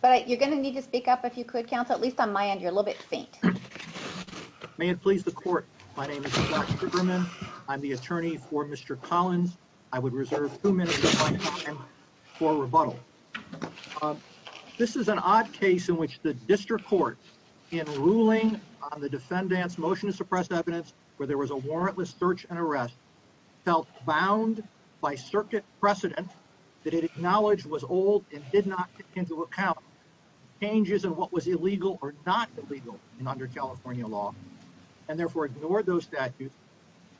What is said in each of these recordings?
but you're going to need to speak up if you could counsel at least on my end you're a little bit faint may it please the court my name is I'm the attorney for Mr. Collins I would reserve two minutes for rebuttal this is an odd case in which the district court in ruling on the defendant's motion to suppress evidence where there was a warrantless search and arrest felt bound by changes in what was illegal or not illegal under California law and therefore ignored those statutes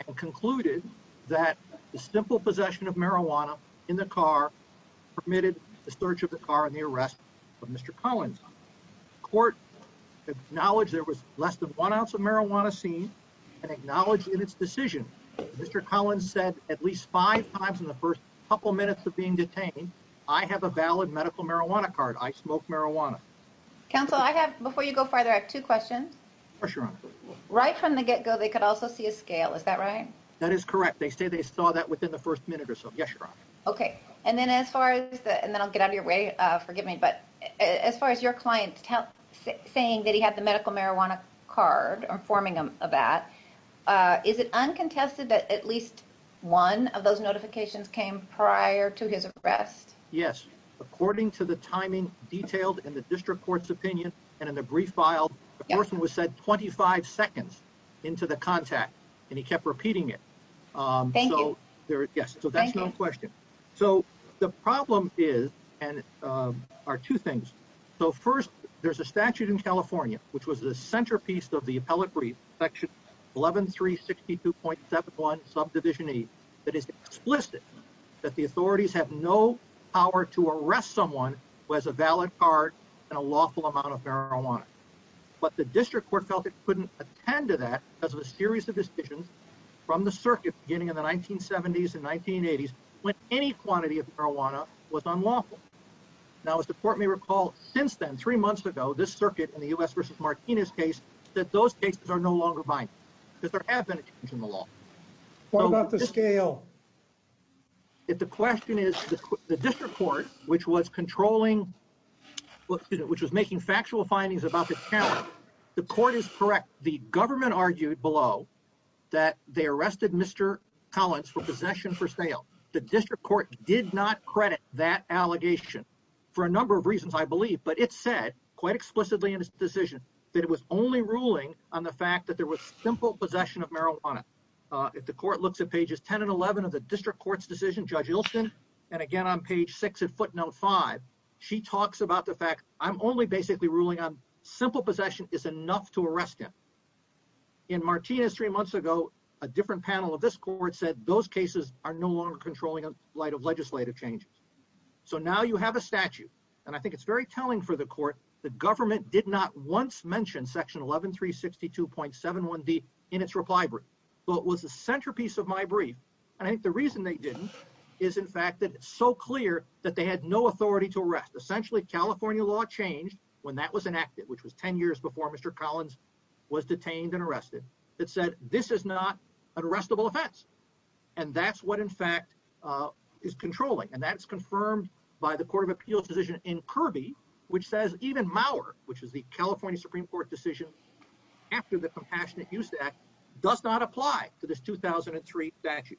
and concluded that the simple possession of marijuana in the car permitted the search of the car and the arrest of Mr. Collins court acknowledged there was less than one ounce of marijuana seen and acknowledged in its decision Mr. Collins said at least five times in the first couple minutes of being detained I have a valid medical marijuana card I smoke marijuana counsel I have before you go farther I have two questions sure right from the get-go they could also see a scale is that right that is correct they say they saw that within the first minute or so yes you're on okay and then as far as the and then I'll get out of your way uh forgive me but as far as your client's health saying that he had the medical marijuana card or forming them uh is it uncontested that at least one of those notifications came prior to his arrest yes according to the timing detailed in the district court's opinion and in the brief file the person was said 25 seconds into the contact and he kept repeating it um so there yes so that's no question so the problem is and um are two things so first there's a statute in California which was the of the appellate brief section 11 362.71 subdivision e that is explicit that the authorities have no power to arrest someone who has a valid card and a lawful amount of marijuana but the district court felt it couldn't attend to that as a series of decisions from the circuit beginning in the 1970s and 1980s when any quantity of marijuana was unlawful now as the court may recall since then three months ago this circuit in the u.s versus martinez case that those cases are no longer binding because there have been a change in the law what about the scale if the question is the district court which was controlling what which was making factual findings about the county the court is correct the government argued below that they arrested mr collins for possession for sale the district court did not credit that allegation for a number of reasons i believe but it said quite explicitly in his decision that it was only ruling on the fact that there was simple possession of marijuana uh if the court looks at pages 10 and 11 of the district court's decision judge ilson and again on page six at footnote five she talks about the fact i'm only basically ruling on simple possession is enough to arrest him in martinez three months ago a different panel of this court said those cases are no longer controlling in light of the court the government did not once mention section 11 362.71 d in its reply brief but was the centerpiece of my brief and i think the reason they didn't is in fact that it's so clear that they had no authority to arrest essentially california law changed when that was enacted which was 10 years before mr collins was detained and arrested that said this is not an arrestable offense and that's what in fact uh is controlling and that's confirmed by the court of appeals in kirby which says even mauer which is the california supreme court decision after the compassionate use act does not apply to this 2003 statute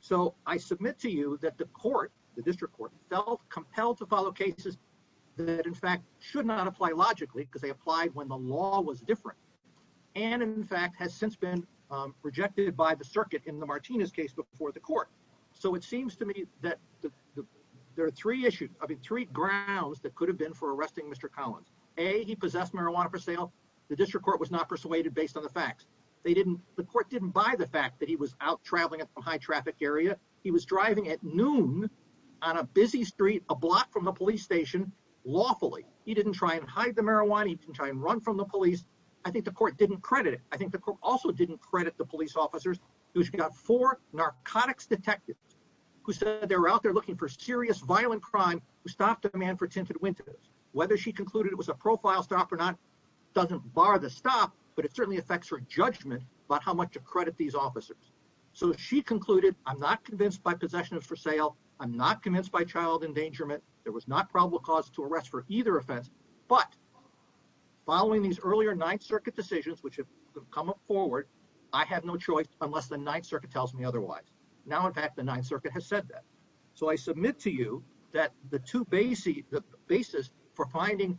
so i submit to you that the court the district court felt compelled to follow cases that in fact should not apply logically because they applied when the law was different and in fact has since been um rejected by the circuit in the martinez case before the court so it seems to me that the there are three issues i mean three grounds that could have been for arresting mr collins a he possessed marijuana for sale the district court was not persuaded based on the facts they didn't the court didn't buy the fact that he was out traveling at the high traffic area he was driving at noon on a busy street a block from the police station lawfully he didn't try and hide the marijuana he didn't try and run from the police i think the court didn't credit it i think the court also didn't credit the police officers who got four narcotics detectives who said they were out there looking for serious violent crime who stopped a man for tinted windows whether she concluded it was a profile stop or not doesn't bar the stop but it certainly affects her judgment about how much to credit these officers so she concluded i'm not convinced by possession of for sale i'm not convinced by child endangerment there was not probable cause to arrest for either offense but following these earlier ninth circuit decisions which have come up forward i have no choice unless the ninth circuit tells me otherwise now in fact the ninth circuit has said that so i submit to you that the two basic the basis for finding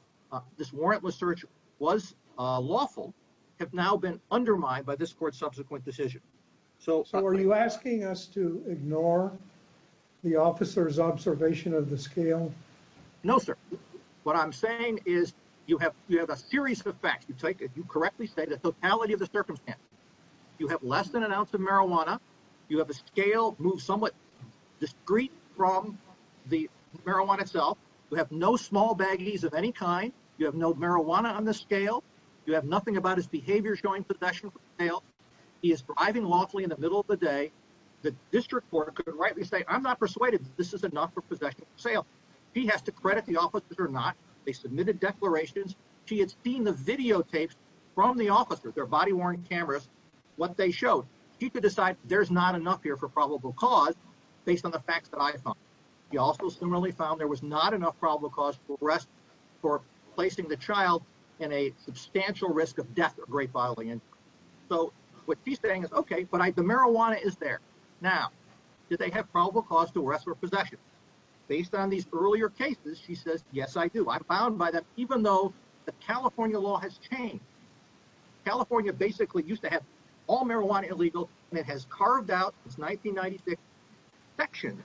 this warrantless search was uh lawful have now been undermined by this court's subsequent decision so so are you asking us to ignore the officer's observation of the scale no sir what i'm saying is you have you have a series of facts you take you correctly say the totality of the circumstance you have less than an ounce of marijuana you have a scale move somewhat discreet from the marijuana itself you have no small baggies of any kind you have no marijuana on the scale you have nothing about his behavior showing possession for sale he is driving lawfully in the middle of the day the district court could rightly say i'm not persuaded this is enough for possession for sale he has to credit the officers or not they submitted declarations she had seen the videotapes from the officers their body-worn cameras what they showed she could decide there's not enough here for probable cause based on the facts that i found she also similarly found there was not enough probable cause to arrest for placing the child in a substantial risk of death or great bodily injury so what she's saying is okay but the marijuana is there now do they have probable cause to arrest for possession based on these earlier cases she says yes i do i'm bound by that even though the california law has changed california basically used to have all marijuana illegal and it has carved out this 1996 section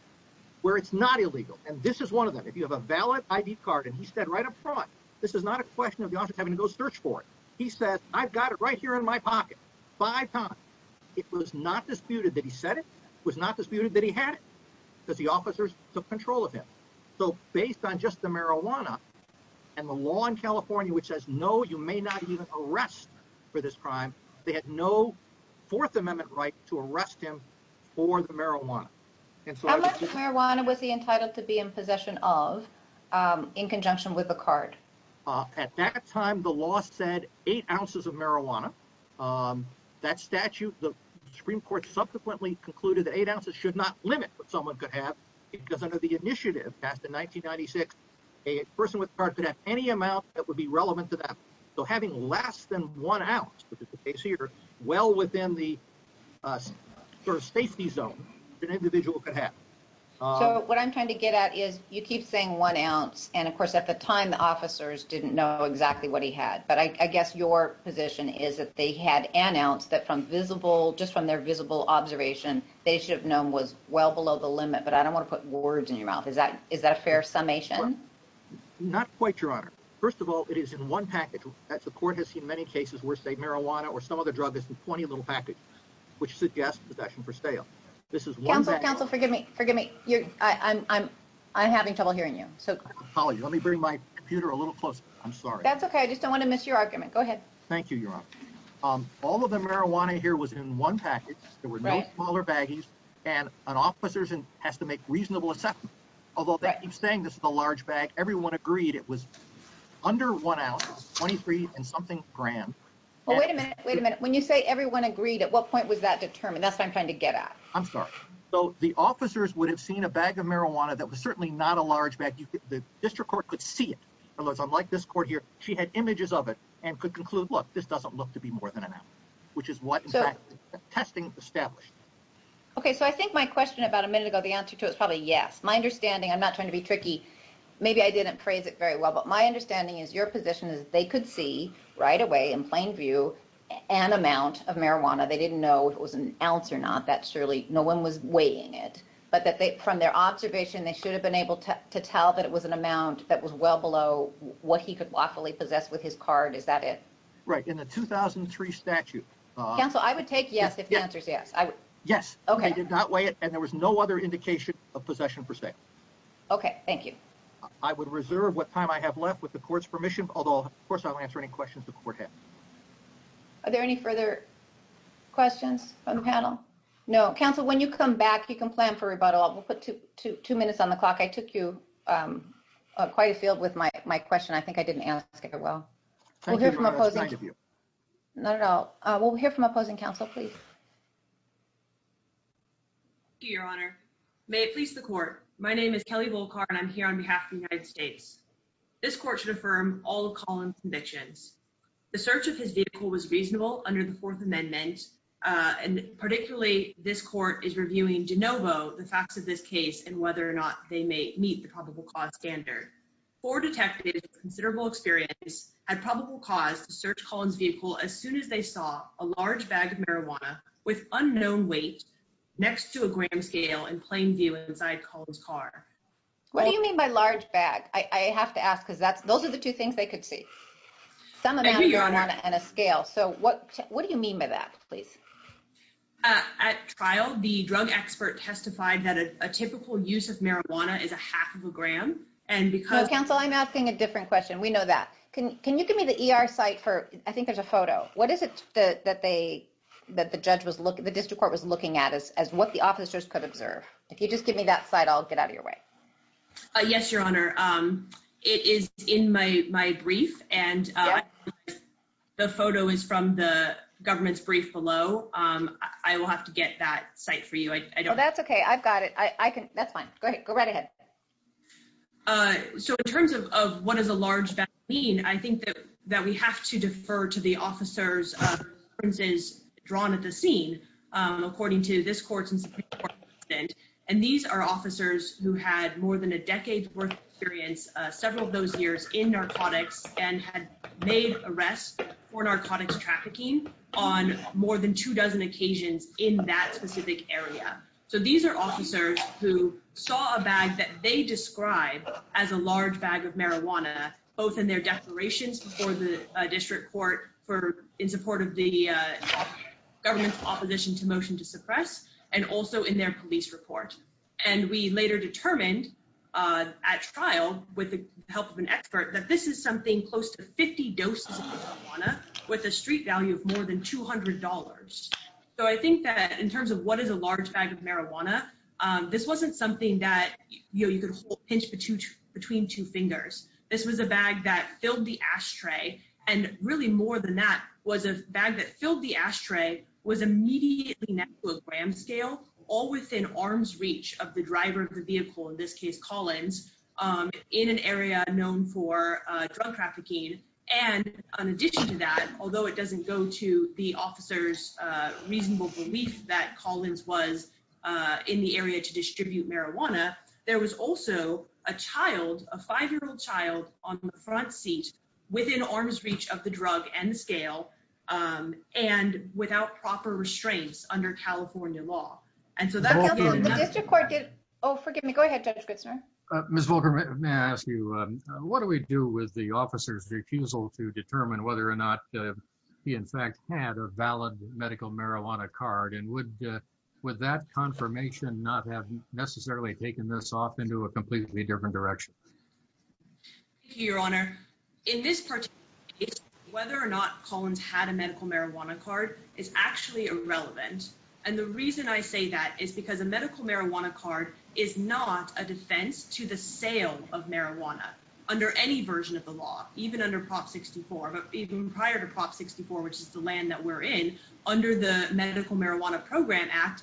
where it's not illegal and this is one of them if you have a valid id card and he said right up front this is not a question of the office having to go search for it he says i've got it right here in my pocket five times it was not disputed that he said it was not disputed that because the officers took control of him so based on just the marijuana and the law in california which says no you may not even arrest for this crime they had no fourth amendment right to arrest him for the marijuana and so how much marijuana was he entitled to be in possession of um in conjunction with a card uh at that time the law said eight ounces of marijuana um that statute the supreme court subsequently concluded that eight ounces should not limit what someone could have because under the initiative passed in 1996 a person with card could have any amount that would be relevant to that so having less than one ounce which is the case here well within the uh sort of safety zone an individual could have so what i'm trying to get at is you keep saying one ounce and of course at the time the officers didn't know exactly what but i guess your position is that they had announced that from visible just from their visible observation they should have known was well below the limit but i don't want to put words in your mouth is that is that a fair summation not quite your honor first of all it is in one package that's the court has seen many cases where say marijuana or some other drug is in plenty little package which suggests possession for sale this is one council forgive me forgive me you're i i'm i'm i'm having trouble hearing you so let me bring my computer a little closer i'm sorry that's okay i just don't want to miss your argument go ahead thank you your honor um all of the marijuana here was in one package there were no smaller baggies and an officer's and has to make reasonable assessment although that keeps saying this is a large bag everyone agreed it was under one ounce 23 and something gram well wait a minute wait a minute when you say everyone agreed at what point was that determined that's what i'm trying to get at i'm sorry so the officers would have seen a bag of marijuana that was certainly not a large bag the district court could see it unless unlike this court here she had images of it and could conclude look this doesn't look to be more than an hour which is what testing established okay so i think my question about a minute ago the answer to it is probably yes my understanding i'm not trying to be tricky maybe i didn't phrase it very well but my understanding is your position is they could see right away in plain view an amount of marijuana they didn't know if it was an ounce or not that surely no one was weighing it but that they from their observation they should have been able to tell that it was an amount that was well below what he could lawfully possess with his card is that it right in the 2003 statute council i would take yes if the answer is yes i would yes okay they did not weigh it and there was no other indication of possession for sale okay thank you i would reserve what time i have left with the court's permission although of course i'll answer any questions the court had are there any further questions on the panel no council when you come back you can plan for rebuttal we'll put two two minutes on the clock i took you um quite a field with my my question i think i didn't ask it well not at all uh we'll hear from opposing council please thank you your honor may it please the court my name is kelly volkar and i'm here on behalf of the united states this court should affirm all the columns convictions the search of his vehicle was reasonable under the fourth amendment uh and particularly this court is reviewing de novo the facts of this case and whether or not they may meet the probable cause standard four detectives considerable experience had probable cause to search colin's vehicle as soon as they saw a large bag of marijuana with unknown weight next to a gram scale and plain view inside colin's car what do you mean by large bag i i have to ask because that's those are the two things they see some amount of marijuana and a scale so what what do you mean by that please at trial the drug expert testified that a typical use of marijuana is a half of a gram and because counsel i'm asking a different question we know that can can you give me the er site for i think there's a photo what is it that they that the judge was looking the district court was looking at is as what the officers could observe if you just give me that site i'll get out of your way uh yes your honor um it is in my my brief and uh the photo is from the government's brief below um i will have to get that site for you i i don't that's okay i've got it i i can that's fine go ahead go right ahead uh so in terms of of what is a large vaccine i think that that we have to defer to the officers drawn at the scene um according to this court and these are officers who had more than a decade's experience several of those years in narcotics and had made arrests for narcotics trafficking on more than two dozen occasions in that specific area so these are officers who saw a bag that they describe as a large bag of marijuana both in their declarations before the district court for in support of the government's opposition to motion to suppress and also in their police report and we later determined uh at trial with the help of an expert that this is something close to 50 doses with a street value of more than 200 so i think that in terms of what is a large bag of marijuana um this wasn't something that you could pinch between two fingers this was a bag that filled the ashtray and really more than that was a bag that filled the ashtray was immediately to a gram scale all within arm's reach of the driver of the vehicle in this case collins um in an area known for uh drug trafficking and in addition to that although it doesn't go to the officer's uh reasonable belief that collins was uh in the area to distribute marijuana there was also a child a five-year-old child on the front seat within arm's reach of the drug and scale um and without proper restraints under california law and so that the district court did oh forgive me go ahead judge good sir uh miss vulgar may i ask you um what do we do with the officer's refusal to determine whether or not he in fact had a valid medical marijuana card and would with that confirmation not have necessarily taken this off into a completely different direction thank you your honor in this particular case whether or not collins had a medical marijuana card is actually irrelevant and the reason i say that is because a medical marijuana card is not a defense to the sale of marijuana under any version of the law even under prop 64 but even prior to prop 64 which is the land that we're in under the medical marijuana program act the cultivate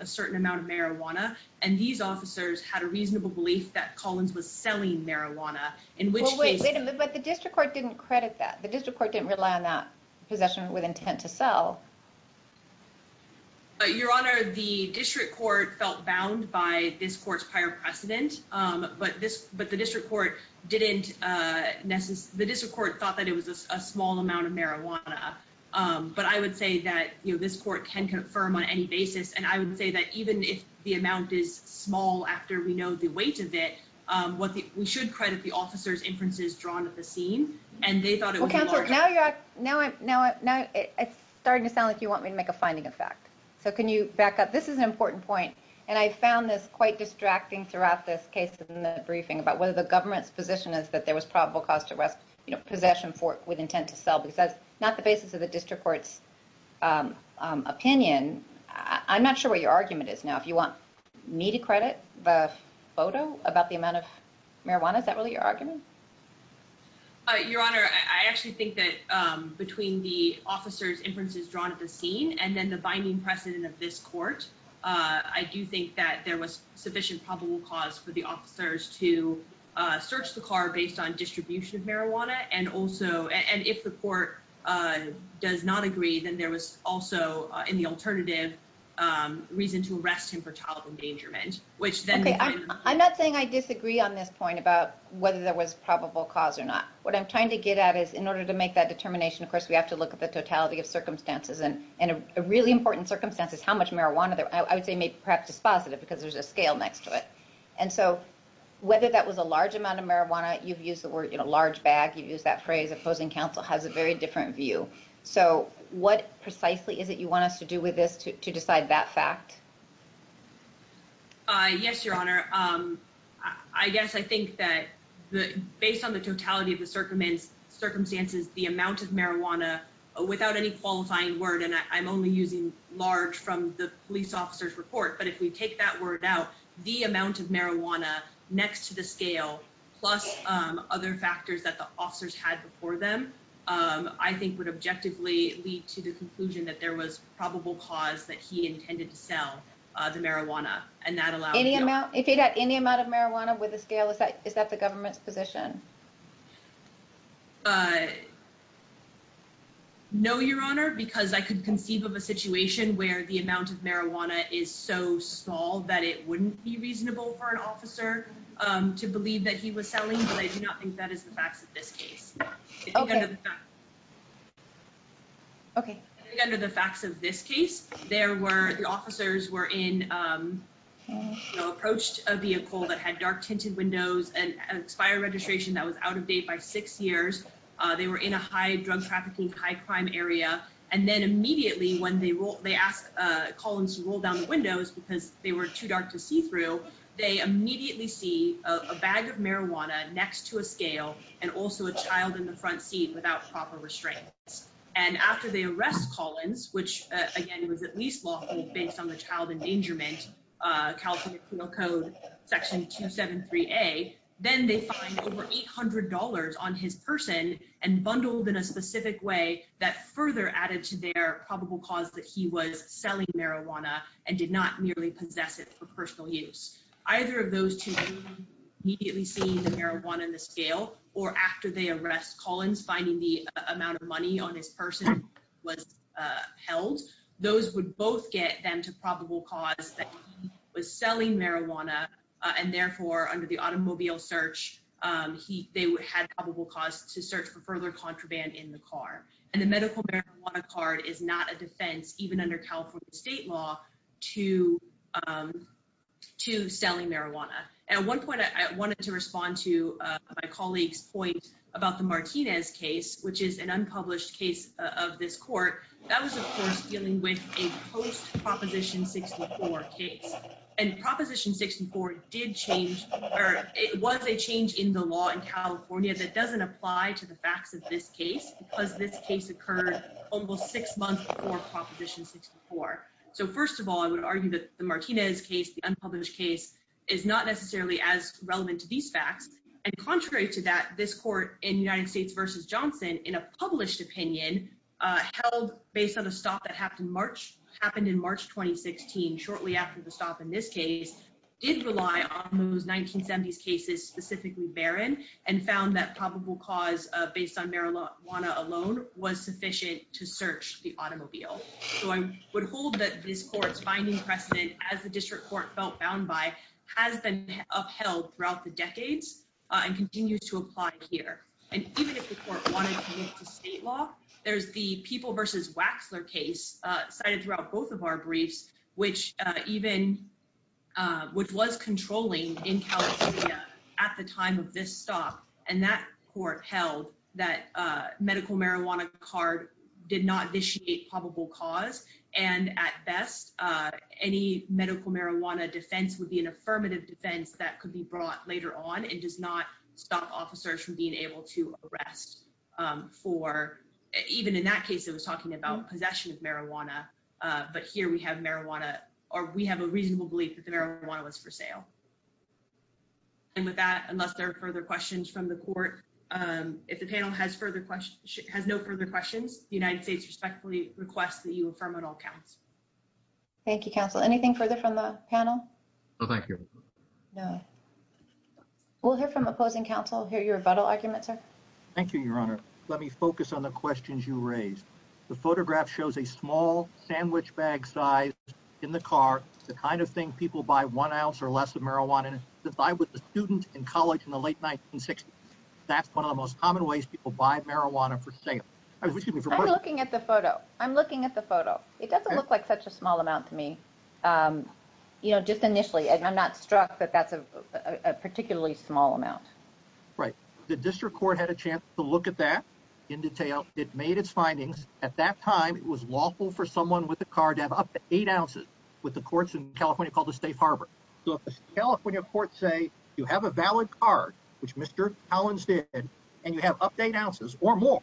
a certain amount of marijuana and these officers had a reasonable belief that collins was selling marijuana in which case but the district court didn't credit that the district court didn't rely on that possession with intent to sell but your honor the district court felt bound by this court's prior precedent um but this but the district court didn't uh the district court thought that it was a small amount of marijuana um but i would say that you know this court can confirm on any basis and i would say that even if the amount is small after we know the weight of it um what the we should credit the officer's inferences drawn at the scene and they thought it was now you're now now now it's starting to sound like you want me to make a finding of fact so can you back up this is an important point and i found this quite distracting throughout this case in the briefing about whether the government's position is that there was probable cause to arrest you know possession for with intent to sell because that's not the basis of i'm not sure what your argument is now if you want me to credit the photo about the amount of marijuana is that really your argument uh your honor i actually think that um between the officer's inferences drawn at the scene and then the binding precedent of this court uh i do think that there was sufficient probable cause for the officers to uh search the car based on distribution of marijuana and also and if the court uh does not agree then there was also in the alternative um reason to arrest him for child endangerment which then okay i'm not saying i disagree on this point about whether there was probable cause or not what i'm trying to get at is in order to make that determination of course we have to look at the totality of circumstances and and a really important circumstance is how much marijuana there i would say maybe perhaps dispositive because there's a scale next to it and so whether that was a large amount of marijuana you've used in a large bag you use that phrase opposing counsel has a very different view so what precisely is it you want us to do with this to decide that fact uh yes your honor um i guess i think that the based on the totality of the circumstances circumstances the amount of marijuana without any qualifying word and i'm only using large from the police officer's report but if we take that word out the amount of marijuana next to the scale plus um other factors that the officers had before them um i think would objectively lead to the conclusion that there was probable cause that he intended to sell uh the marijuana and that allowed any amount if you had any amount of marijuana with a scale is that is that the government's position uh no your honor because i could conceive of a situation where the amount of marijuana is so small that it wouldn't be reasonable for an officer um to believe that he was selling but i do not think that is the facts of this case okay okay under the facts of this case there were the officers were in um you know approached a vehicle that had dark tinted windows and expired registration that was out of date by six years uh they were in a high drug trafficking high crime area and then immediately when they roll they ask uh collins to roll down the windows because they were too dark to see through they immediately see a bag of marijuana next to a scale and also a child in the front seat without proper restraints and after they arrest collins which again was at least lawful based on the child endangerment uh california penal code section 273a then they find over 800 on his person and bundled in a specific way that further added to their probable cause that he was selling marijuana and did not merely possess it for personal use either of those two immediately seeing the marijuana in the scale or after they arrest collins finding the amount of money on his person was uh held those would both get them to probable cause that he was selling marijuana and therefore under the automobile search um he they would had probable cause to search for further contraband in the car and the medical marijuana card is not a defense even under california state law to um to selling marijuana at one point i wanted to respond to uh my colleague's point about the martinez case which is an unpublished case of this court that was of course dealing with a post proposition 64 case and proposition 64 did change or it was a change in the law in california that doesn't apply to the facts of this case because this case occurred almost six months before proposition 64 so first of all i would argue that the martinez case the unpublished case is not necessarily as relevant to these facts and contrary to that this court in united states versus johnson in a published opinion uh held based on a stop that happened march happened in march 2016 shortly after the stop in this case did rely on those 1970s cases specifically barren and found that probable cause uh based on marijuana alone was sufficient to search the automobile so i would hold that this court's finding precedent as the district court felt bound by has been upheld throughout the decades and continues to apply here and even if the court wanted to move to state law there's the people versus waxler case uh cited throughout both of our briefs which uh even uh which was controlling in california at the time of this stop and that court held that uh medical marijuana card did not initiate probable cause and at best any medical marijuana defense would be an affirmative defense that could be brought later on and does not stop officers from being able to arrest um for even in that case it was talking about possession of marijuana uh but here we have marijuana or we have a reasonable belief that the marijuana was for sale and with that unless there are further questions from the court um if the panel has further questions has no further questions the united states respectfully request that you affirm it all counts thank you counsel anything further from the panel oh thank you no we'll hear from opposing counsel hear your battle argument sir thank you your honor let me focus on the questions you raised the photograph shows a small sandwich bag size in the car the kind of thing people buy one ounce or less of marijuana to buy with the student in college in the late 1960s that's one of the most common ways people buy marijuana for sale i'm looking at the photo i'm looking at the photo it doesn't look like such a small amount to me um you know just initially and i'm not struck that that's a particularly small amount right the district court had a chance to look at that in detail it made its findings at that time it was lawful for someone with a car to have up to eight ounces with the courts in california called the safe harbor so if the california court say you have a valid card which mr collins did and you have update ounces or more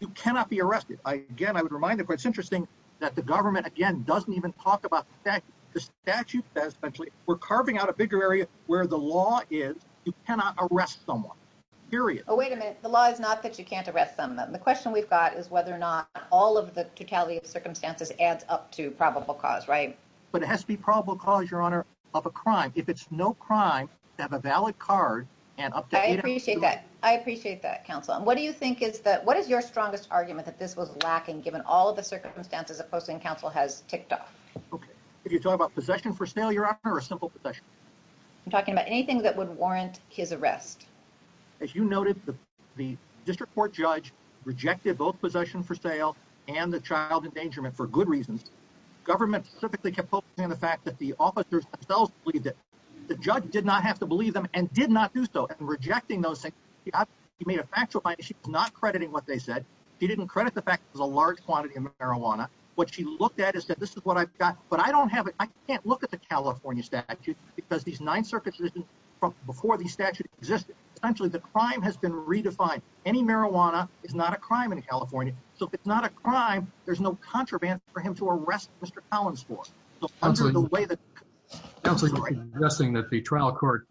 you cannot be arrested again i would remind the court it's interesting that the government again doesn't even talk about that the statute says essentially we're carving out a bigger area where the law is you cannot arrest someone period oh wait a minute the law is not that you can't arrest them the question we've got is whether or not all of the totality of circumstances adds up to probable cause right but it has to be probable cause your if it's no crime to have a valid card and i appreciate that i appreciate that counsel and what do you think is that what is your strongest argument that this was lacking given all of the circumstances of posting council has ticked off okay if you talk about possession for sale you're up for a simple possession i'm talking about anything that would warrant his arrest as you noted the district court judge rejected both possession for sale and the child endangerment for good reasons government specifically kept focusing on the fact that the officers themselves believe that the judge did not have to believe them and did not do so and rejecting those things he got he made a factual point she's not crediting what they said he didn't credit the fact there's a large quantity of marijuana what she looked at is that this is what i've got but i don't have it i can't look at the california statute because these nine circuits isn't from before the statute existed essentially the crime has been redefined any marijuana is not a crime in california so it's not a crime there's no contraband for him to arrest mr collins for the way that suggesting that the trial court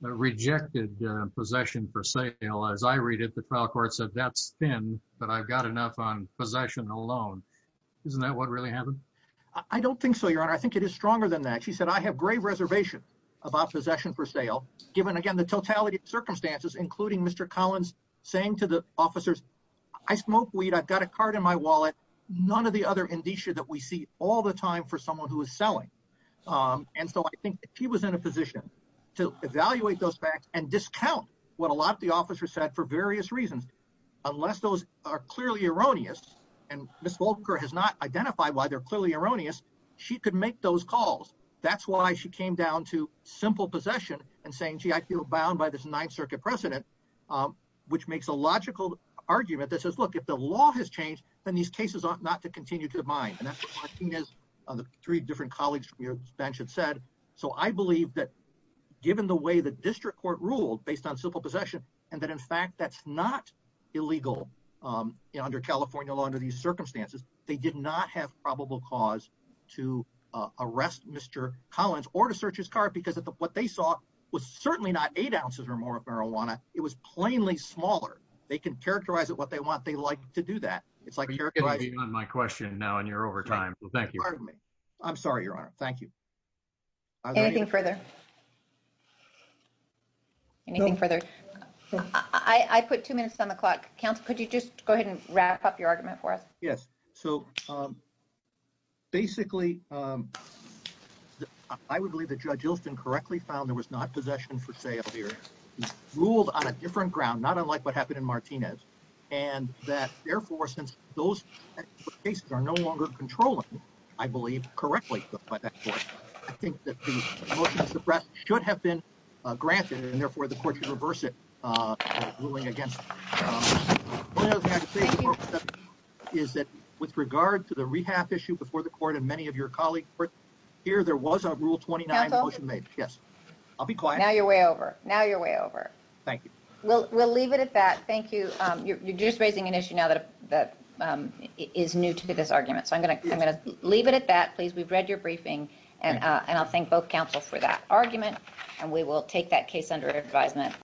rejected possession for sale as i read it the trial court said that's thin but i've got enough on possession alone isn't that what really happened i don't think so your honor i think it is stronger than that she said i have grave reservation about possession for sale given again the totality of circumstances including mr collins saying to the officers i smoke weed i've got a card in my wallet none of the other indicia that we see all the time for someone who is selling um and so i think he was in a position to evaluate those facts and discount what a lot of the officers said for various reasons unless those are clearly erroneous and miss volker has not identified why they're clearly erroneous she could make those calls that's why she came down to simple possession and saying gee i feel bound by this ninth circuit precedent um which makes a logical argument that says look if the law has changed then these cases are not to continue to mind and that's what martinez on the three different colleagues from your bench had said so i believe that given the way the district court ruled based on simple possession and that in fact that's not illegal um under california law under these circumstances they did not have probable cause to arrest mr collins or what they saw was certainly not eight ounces or more of marijuana it was plainly smaller they can characterize it what they want they like to do that it's like my question now and you're over time thank you pardon me i'm sorry your honor thank you anything further anything further i i put two minutes on the clock council could you just go ahead and incorrectly found there was not possession for sale here ruled on a different ground not unlike what happened in martinez and that therefore since those cases are no longer controlling i believe correctly by that court i think that the motion to suppress should have been granted and therefore the court should reverse it uh ruling against is that with regard to the rehab issue before the court and many of your colleagues here there was a rule 29 motion made yes i'll be quiet now you're way over now you're way over thank you we'll we'll leave it at that thank you um you're just raising an issue now that that is new to this argument so i'm gonna i'm gonna leave it at that please we've read your briefing and uh and i'll thank both council for that argument and we will take that case under advisement